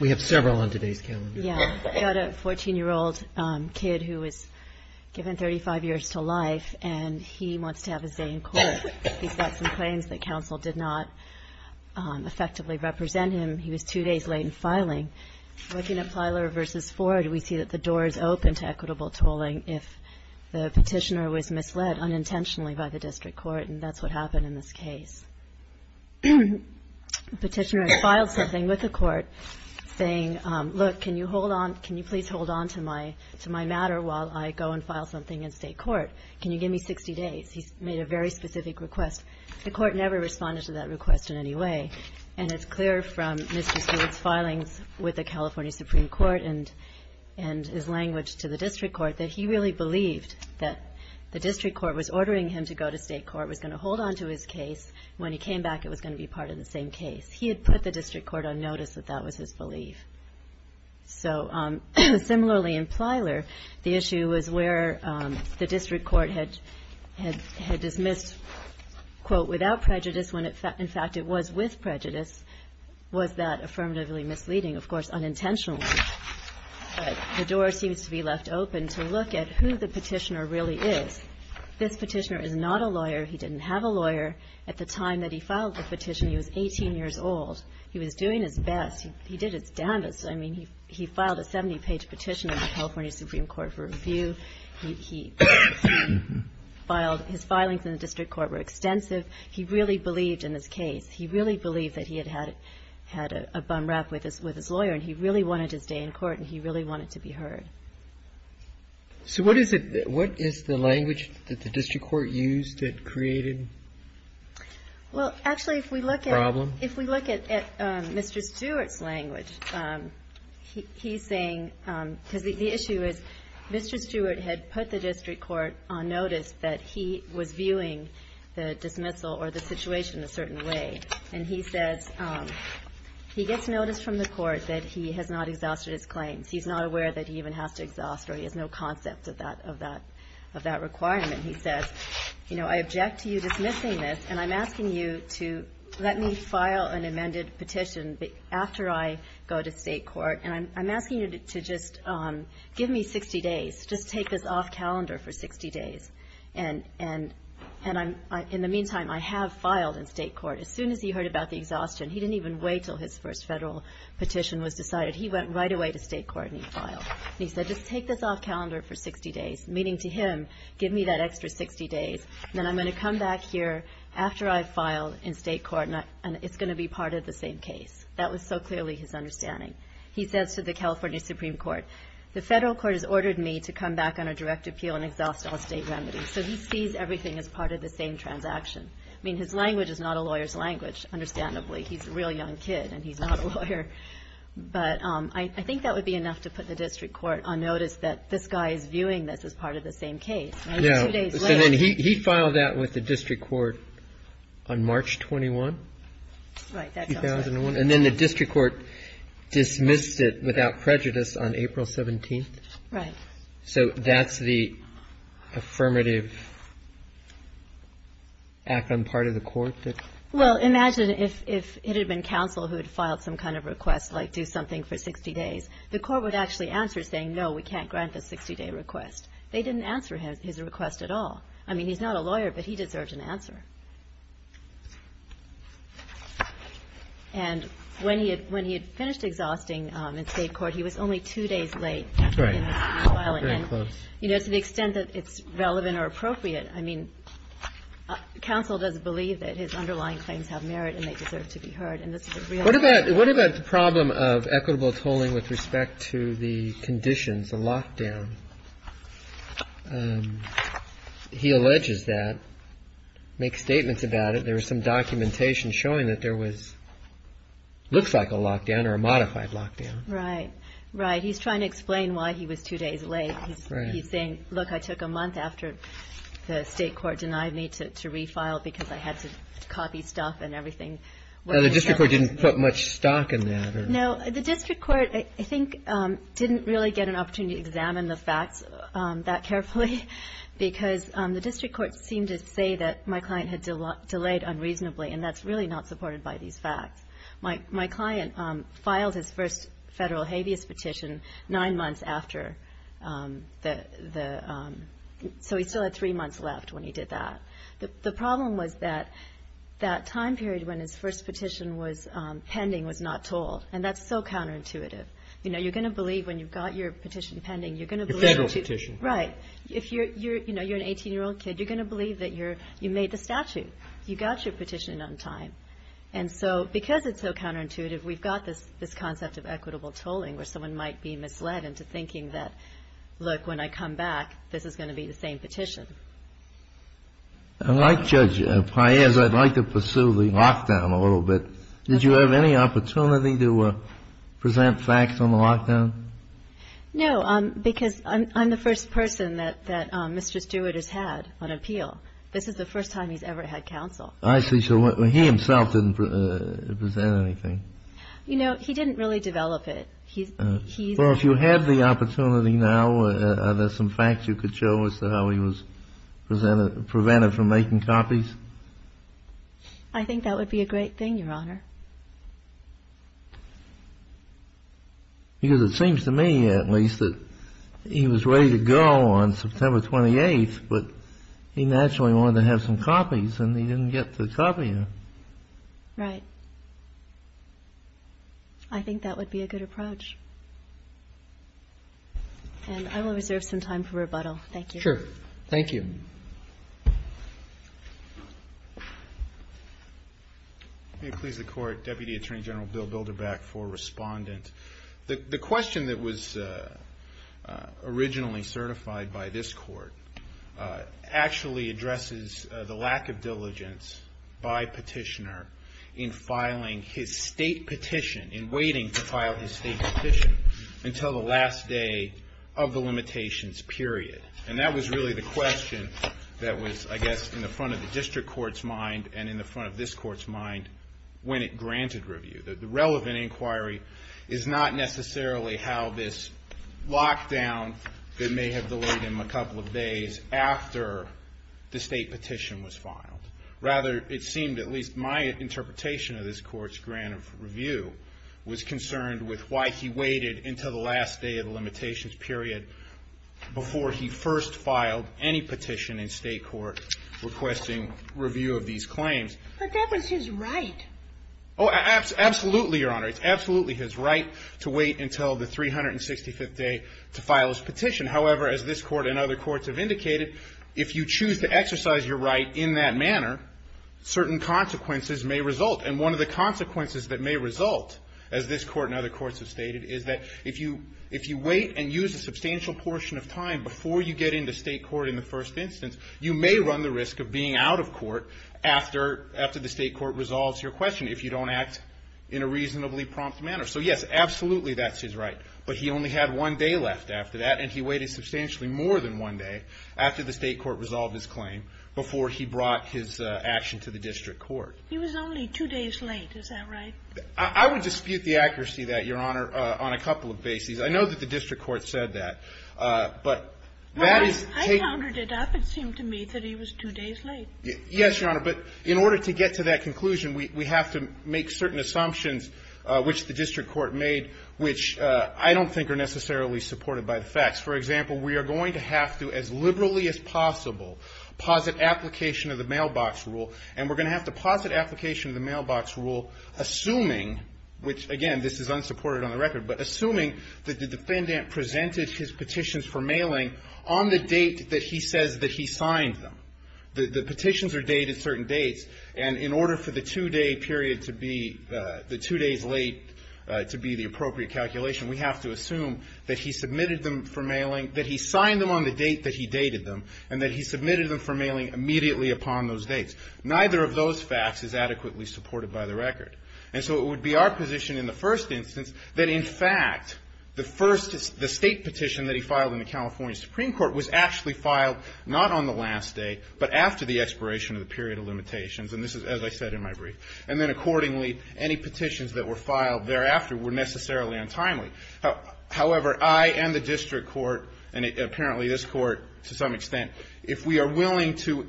We have several on today's calendar. Yeah, we've got a 14-year-old kid who was given 35 years to life, and he wants to have his day in court. He's got some claims that counsel did not effectively represent him. He was two days late in filing. Looking at Plyler v. Ford, we see that the door is open to equitable tolling if the petitioner was misled unintentionally by the district court, and that's what happened in this case. The petitioner had filed something with the court saying, look, can you hold on, can you please hold on to my matter while I go and file something in state court? Can you give me 60 days? He made a very specific request. The court never responded to that request in any way. And it's clear from Mr. Stewart's filings with the California Supreme Court and his language to the district court that he really believed that the district court was ordering him to go to state court, was going to hold on to his case. When he came back, it was going to be part of the same case. He had put the district court on notice that that was his belief. So similarly in Plyler, the issue was where the district court had dismissed, quote, without prejudice when, in fact, it was with prejudice. Was that affirmatively misleading? Of course, unintentionally. But the door seems to be left open to look at who the petitioner really is. This petitioner is not a lawyer. He didn't have a lawyer at the time that he filed the petition. He was 18 years old. He was doing his best. He did his damnedest. I mean, he filed a 70-page petition in the California Supreme Court for review. He filed his filings in the district court were extensive. He really believed in his case. He really believed that he had had a bum rap with his lawyer, and he really wanted his day in court, and he really wanted to be heard. So what is the language that the district court used that created the problem? Well, actually, if we look at Mr. Stewart's language, he's saying the issue is Mr. Stewart had put the district court on notice that he was viewing the dismissal or the situation a certain way. And he says he gets notice from the court that he has not exhausted his claims. He's not aware that he even has to exhaust or he has no concept of that requirement. He says, you know, I object to you dismissing this, and I'm asking you to let me file an amended petition after I go to state court, and I'm asking you to just give me 60 days. Just take this off calendar for 60 days. And in the meantime, I have filed in state court. As soon as he heard about the exhaustion, he didn't even wait until his first federal petition was decided. He went right away to state court, and he filed. And he said, just take this off calendar for 60 days, meaning to him, give me that extra 60 days, and then I'm going to come back here after I file in state court, and it's going to be part of the same case. That was so clearly his understanding. He says to the California Supreme Court, the federal court has ordered me to come back on a direct appeal and exhaust all state remedies. So he sees everything as part of the same transaction. I mean, his language is not a lawyer's language, understandably. He's a real young kid, and he's not a lawyer. But I think that would be enough to put the district court on notice that this guy is viewing this as part of the same case. And it's two days later. So then he filed that with the district court on March 21, 2001. And then the district court dismissed it without prejudice on April 17th? Right. Well, imagine if it had been counsel who had filed some kind of request, like do something for 60 days. The court would actually answer saying, no, we can't grant the 60-day request. They didn't answer his request at all. I mean, he's not a lawyer, but he deserved an answer. And when he had finished exhausting in state court, he was only two days late. Right. Very close. You know, to the extent that it's relevant or appropriate, I mean, counsel doesn't believe that his underlying claims have merit and they deserve to be heard. What about the problem of equitable tolling with respect to the conditions, the lockdown? He alleges that, makes statements about it. There was some documentation showing that there was, looks like a lockdown or a modified lockdown. Right. Right. He's trying to explain why he was two days late. He's saying, look, I took a month after the state court denied me to refile because I had to copy stuff and everything. The district court didn't put much stock in that? No. The district court, I think, didn't really get an opportunity to examine the facts that carefully because the district court seemed to say that my client had delayed unreasonably, and that's really not supported by these facts. My client filed his first federal habeas petition nine months after the, so he still had three months left when he did that. The problem was that that time period when his first petition was pending was not tolled, and that's so counterintuitive. You know, you're going to believe when you've got your petition pending, you're going to believe. Your federal petition. Right. If you're, you know, you're an 18-year-old kid, you're going to believe that you made the statute. You got your petition in on time. And so because it's so counterintuitive, we've got this concept of equitable tolling where someone might be misled into thinking that, look, when I come back, this is going to be the same petition. I'd like, Judge Paez, I'd like to pursue the lockdown a little bit. Did you have any opportunity to present facts on the lockdown? No, because I'm the first person that Mr. Stewart has had on appeal. This is the first time he's ever had counsel. I see. So he himself didn't present anything. You know, he didn't really develop it. Well, if you had the opportunity now, are there some facts you could show as to how he was prevented from making copies? I think that would be a great thing, Your Honor. Because it seems to me, at least, that he was ready to go on September 28th, but he naturally wanted to have some copies, and he didn't get to copy them. Right. I think that would be a good approach. And I will reserve some time for rebuttal. Thank you. Sure. Thank you. May it please the Court, Deputy Attorney General Bill Bilderbach for Respondent. The question that was originally certified by this Court actually addresses the lack of diligence by Petitioner in filing his state petition, in waiting to file his state petition until the last day of the limitations period. And that was really the question that was, I guess, in the front of the district court's mind and in the front of this court's mind when it granted review. The relevant inquiry is not necessarily how this lockdown that may have delayed him a couple of days after the state petition was filed. Rather, it seemed at least my interpretation of this court's grant of review was concerned with why he waited until the last day of the limitations period before he first filed any petition in state court requesting review of these claims. But that was his right. Oh, absolutely, Your Honor. It's absolutely his right to wait until the 365th day to file his petition. However, as this court and other courts have indicated, if you choose to exercise your right in that manner, certain consequences may result. And one of the consequences that may result, as this court and other courts have stated, is that if you wait and use a substantial portion of time before you get into state court in the first instance, you may run the risk of being out of court after the state court resolves your question if you don't act in a reasonably prompt manner. So, yes, absolutely that's his right. But he only had one day left after that, and he waited substantially more than one day after the state court resolved his claim before he brought his action to the district court. He was only two days late. Is that right? I would dispute the accuracy of that, Your Honor, on a couple of bases. I know that the district court said that. But that is the case. Well, I countered it up. It seemed to me that he was two days late. Yes, Your Honor. But in order to get to that conclusion, we have to make certain assumptions which the district court made, which I don't think are necessarily supported by the facts. For example, we are going to have to, as liberally as possible, posit application of the mailbox rule, and we're going to have to posit application of the mailbox rule assuming, which, again, this is unsupported on the record, but assuming that the defendant presented his petitions for mailing on the date that he says that he signed them. The petitions are dated certain dates. And in order for the two-day period to be the two days late to be the appropriate calculation, we have to assume that he submitted them for mailing, that he signed them on the date that he dated them, and that he submitted them for mailing immediately upon those dates. Neither of those facts is adequately supported by the record. And so it would be our position in the first instance that, in fact, the first the State petition that he filed in the California Supreme Court was actually filed not on the last day, but after the expiration of the period of limitations. And this is, as I said in my brief. And then accordingly, any petitions that were filed thereafter were necessarily untimely. However, I and the district court, and apparently this court to some extent, if we are willing to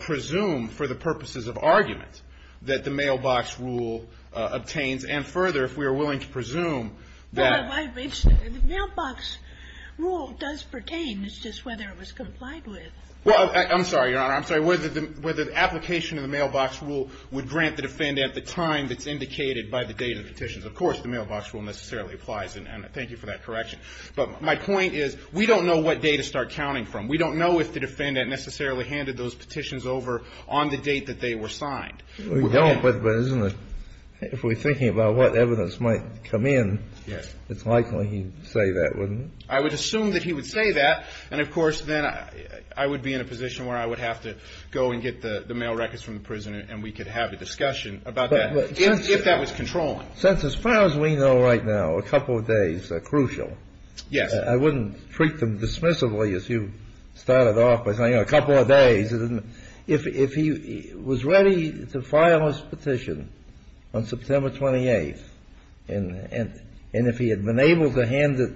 presume for the purposes of argument that the mailbox rule obtains, and further, if we are willing to presume that. The mailbox rule does pertain. It's just whether it was complied with. Well, I'm sorry, Your Honor. I'm sorry. Whether the application of the mailbox rule would grant the defendant the time that's indicated by the date of the petitions. Of course, the mailbox rule necessarily applies, and thank you for that correction. But my point is we don't know what date to start counting from. We don't know if the defendant necessarily handed those petitions over on the date that they were signed. We don't, but isn't it, if we're thinking about what evidence might come in, it's likely he'd say that, wouldn't it? I would assume that he would say that. And, of course, then I would be in a position where I would have to go and get the mail records from the prison and we could have a discussion about that, if that was controlling. Since as far as we know right now, a couple of days are crucial. Yes. I wouldn't treat them dismissively as you started off by saying a couple of days. If he was ready to file his petition on September 28th, and if he had been able to hand it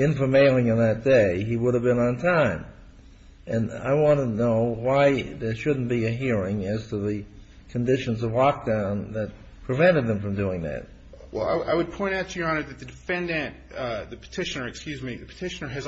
in for mailing on that day, he would have been on time. And I want to know why there shouldn't be a hearing as to the conditions of lockdown that prevented them from doing that. Well, I would point out to Your Honor that the defendant, the petitioner, excuse me, the petitioner presented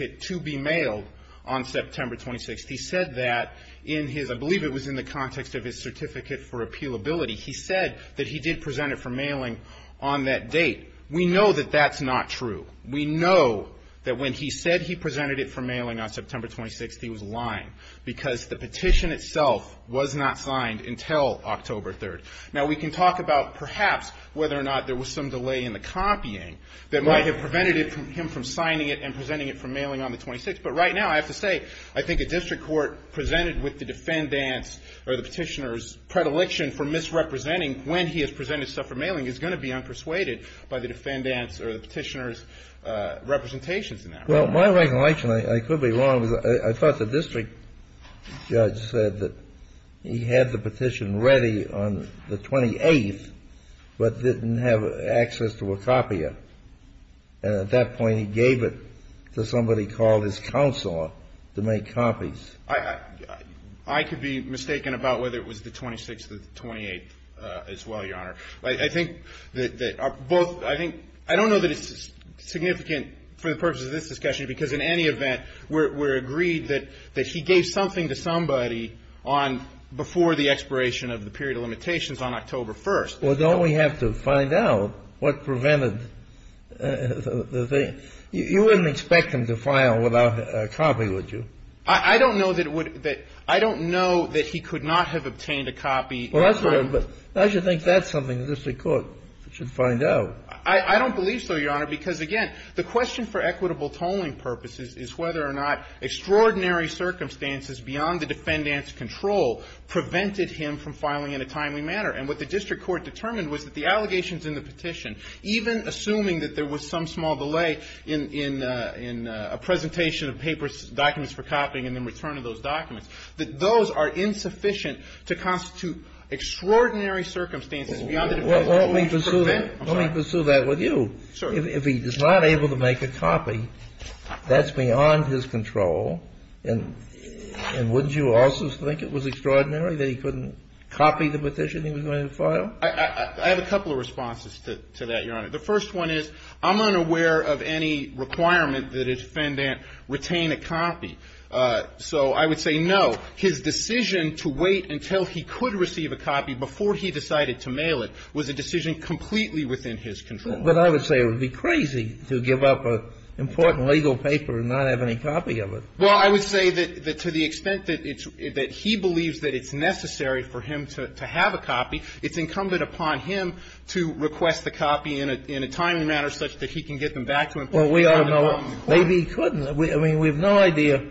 it for mailing on September 26th. He said that in his, I believe it was in the context of his certificate for appealability. He said that he did present it for mailing on that date. We know that that's not true. We know that when he said he presented it for mailing on September 26th, he was lying, because the petition itself was not signed until October 3rd. Now, we can talk about perhaps whether or not there was some delay in the copying that might have prevented him from signing it and presenting it for mailing on the 26th. But right now, I have to say, I think a district court presented with the defendant's or the petitioner's predilection for misrepresenting when he has presented stuff for mailing is going to be unpersuaded by the defendant's or the petitioner's representations in that regard. Well, my regulation, I could be wrong. I thought the district judge said that he had the petition ready on the 28th, but didn't have access to a copier. And at that point, he gave it to somebody called his counselor to make copies. I could be mistaken about whether it was the 26th or the 28th as well, Your Honor. I think that both, I think, I don't know that it's significant for the purposes of this discussion, because in any event, we're agreed that he gave something to somebody on, before the expiration of the period of limitations on October 1st. Well, don't we have to find out what prevented the thing? You wouldn't expect him to file without a copy, would you? I don't know that it would, that, I don't know that he could not have obtained a copy. Well, that's right. But I should think that's something the district court should find out. I don't believe so, Your Honor, because, again, the question for equitable tolling purposes is whether or not extraordinary circumstances beyond the defendant's control prevented him from filing in a timely manner. And what the district court determined was that the allegations in the petition, even assuming that there was some small delay in a presentation of papers, documents for copying and then return of those documents, that those are insufficient to constitute extraordinary circumstances beyond the defendant's control. Well, let me pursue that. I'm sorry. Let me pursue that with you. Sure. If he is not able to make a copy, that's beyond his control. And wouldn't you also think it was extraordinary that he couldn't copy the petition he was going to file? I have a couple of responses to that, Your Honor. The first one is I'm unaware of any requirement that a defendant retain a copy. So I would say no. His decision to wait until he could receive a copy before he decided to mail it was a decision completely within his control. But I would say it would be crazy to give up an important legal paper and not have any copy of it. Well, I would say that to the extent that he believes that it's necessary for him to have a copy, it's incumbent upon him to request the copy in a timely manner such that he can get them back to him. Well, we are not. Maybe he couldn't. I mean, we have no idea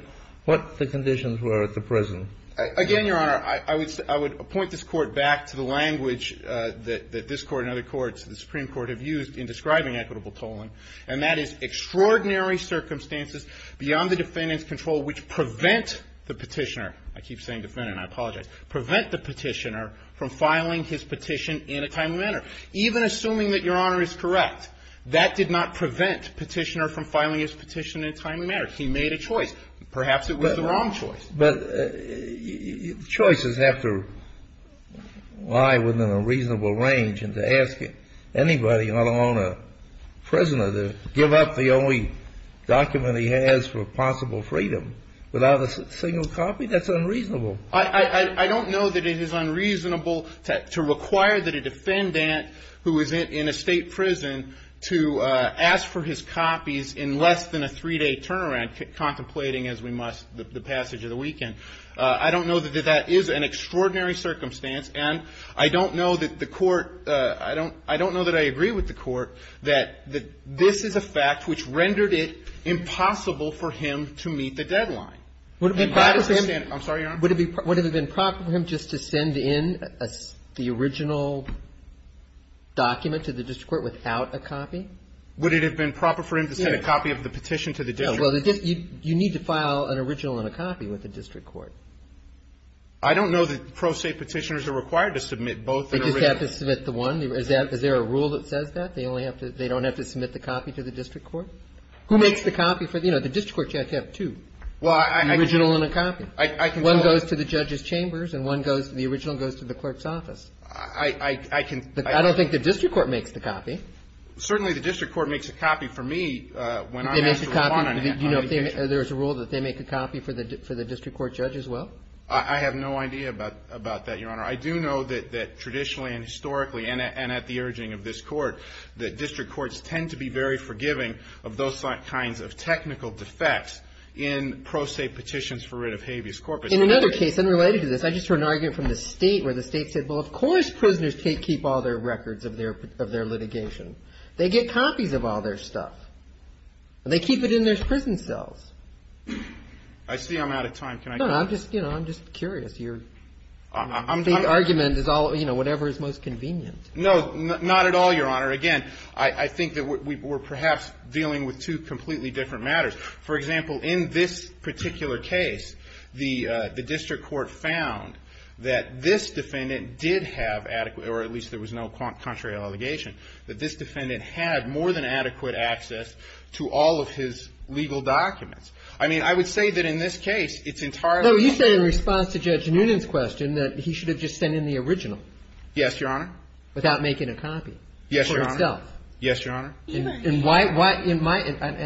what the conditions were at the present. Again, Your Honor, I would point this Court back to the language that this Court and other courts, the Supreme Court, have used in describing equitable tolling, and that is extraordinary circumstances beyond the defendant's control which prevent the petitioner. I keep saying defendant. I apologize. Prevent the petitioner from filing his petition in a timely manner. Even assuming that Your Honor is correct, that did not prevent the petitioner from filing his petition in a timely manner. He made a choice. Perhaps it was the wrong choice. But choices have to lie within a reasonable range, and to ask anybody, let alone a prisoner, to give up the only document he has for possible freedom without a single copy, that's unreasonable. I don't know that it is unreasonable to require that a defendant who is in a State prison to ask for his copies in less than a three-day turnaround, contemplating as we must the passage of the weekend. I don't know that that is an extraordinary circumstance, and I don't know that the Court – I don't know that I agree with the Court that this is a fact which rendered it impossible for him to meet the deadline. Would it be proper for him – I'm sorry, Your Honor. Would it have been proper for him just to send in the original document to the district court without a copy? Would it have been proper for him to send a copy of the petition to the district court? Well, you need to file an original and a copy with the district court. I don't know that pro se petitioners are required to submit both an original and a copy. They just have to submit the one? Is there a rule that says that? They only have to – they don't have to submit the copy to the district court? Who makes the copy for the – you know, the district court, you have to have two. Well, I – An original and a copy. I can tell – One goes to the judge's chambers, and one goes – the original goes to the clerk's office. I can – I don't think the district court makes the copy. Certainly the district court makes a copy for me when I have to respond on a petition. They make a copy – do you know if there is a rule that they make a copy for the district court judge as well? I have no idea about that, Your Honor. I do know that traditionally and historically, and at the urging of this Court, that there have been all kinds of technical defects in pro se petitions for writ of habeas corpus. In another case, unrelated to this, I just heard an argument from the State where the State said, well, of course prisoners keep all their records of their litigation. They get copies of all their stuff, and they keep it in their prison cells. I see I'm out of time. Can I – No, no. I'm just – you know, I'm just curious. No. Not at all, Your Honor. Again, I think that we're perhaps dealing with two completely different matters. For example, in this particular case, the district court found that this defendant did have adequate – or at least there was no contrary allegation – that this defendant had more than adequate access to all of his legal documents. I mean, I would say that in this case, it's entirely possible – No, you said in response to Judge Noonan's question that he should have just sent in the original. Yes, Your Honor. Without making a copy. Yes, Your Honor. For himself. Yes, Your Honor. And why – and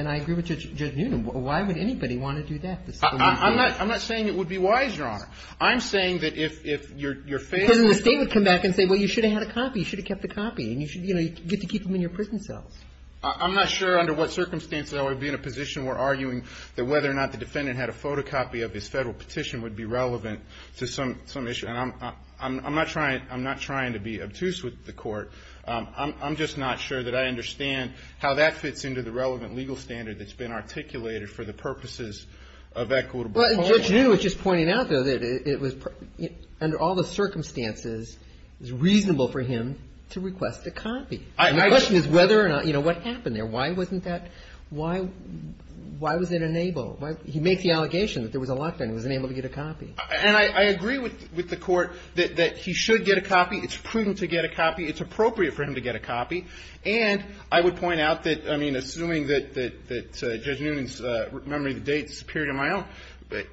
I agree with Judge Noonan. Why would anybody want to do that? I'm not saying it would be wise, Your Honor. I'm saying that if your – Because then the State would come back and say, well, you should have had a copy. You should have kept the copy. And, you know, you get to keep them in your prison cells. I'm not sure under what circumstances I would be in a position where arguing that whether or not the defendant had a photocopy of his Federal petition would be relevant to some issue. And I'm not trying – I'm not trying to be obtuse with the Court. I'm just not sure that I understand how that fits into the relevant legal standard that's been articulated for the purposes of equitable – Well, Judge Noonan was just pointing out, though, that it was – under all the circumstances, it was reasonable for him to request a copy. My question is whether or not – you know, what happened there? Why wasn't that – why was it enabled? He makes the allegation that there was a lockdown. He wasn't able to get a copy. And I agree with the Court that he should get a copy. It's prudent to get a copy. It's appropriate for him to get a copy. And I would point out that, I mean, assuming that Judge Noonan's memory of the date is superior to my own,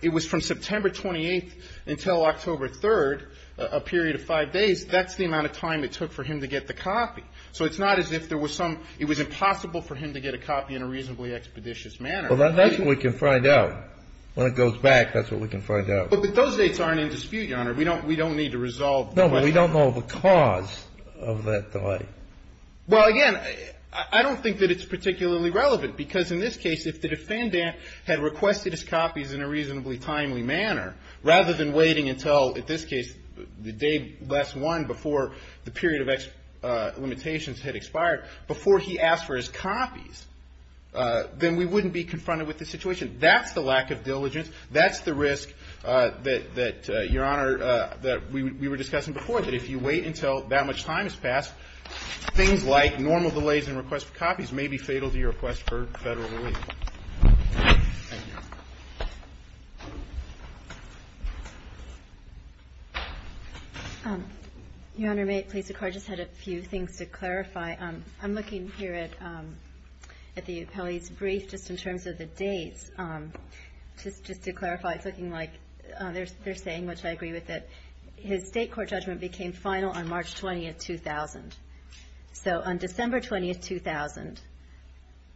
it was from September 28th until October 3rd, a period of five days. That's the amount of time it took for him to get the copy. So it's not as if there was some – it was impossible for him to get a copy in a reasonably expeditious manner. Well, that's what we can find out. When it goes back, that's what we can find out. But those dates aren't in dispute, Your Honor. We don't need to resolve the question. No, but we don't know the cause of that delay. Well, again, I don't think that it's particularly relevant because, in this case, if the defendant had requested his copies in a reasonably timely manner, rather than waiting until, in this case, the day last one before the period of limitations had expired, before he asked for his copies, then we wouldn't be confronted with this situation. That's the lack of diligence. That's the risk that, Your Honor, that we were discussing before, that if you wait until that much time has passed, things like normal delays in requests for copies may be fatal to your request for Federal relief. Thank you. Your Honor, may it please the Court? I just had a few things to clarify. I'm looking here at the appellee's brief just in terms of the dates. Just to clarify, it's looking like they're saying, which I agree with it, his State Court judgment became final on March 20th, 2000. So on December 20th, 2000,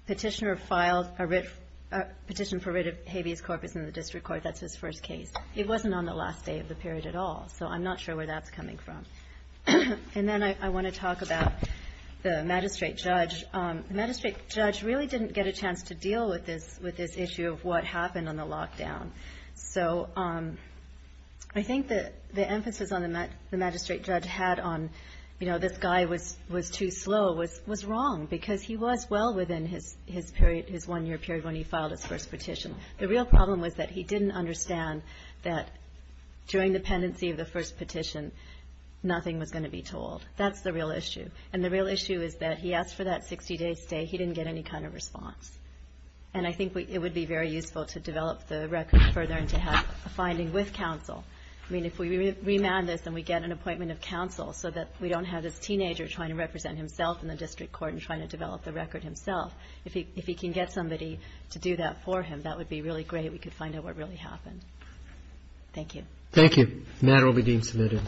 Petitioner filed a petition for writ of habeas corpus in the district court. That's his first case. It wasn't on the last day of the period at all. So I'm not sure where that's coming from. And then I want to talk about the magistrate judge. The magistrate judge really didn't get a chance to deal with this issue of what happened on the lockdown. So I think the emphasis on the magistrate judge had on, you know, this guy was too slow was wrong because he was well within his one-year period when he filed his first petition. The real problem was that he didn't understand that during the pendency of the first petition, nothing was going to be told. That's the real issue. And the real issue is that he asked for that 60-day stay. He didn't get any kind of response. And I think it would be very useful to develop the record further and to have a finding with counsel. I mean, if we remand this and we get an appointment of counsel so that we don't have this teenager trying to represent himself in the district court and trying to develop the record himself, if he can get somebody to do that for him, that would be really great. We could find out what really happened. Thank you. Roberts. Thank you. The matter will be deemed submitted. Thank you.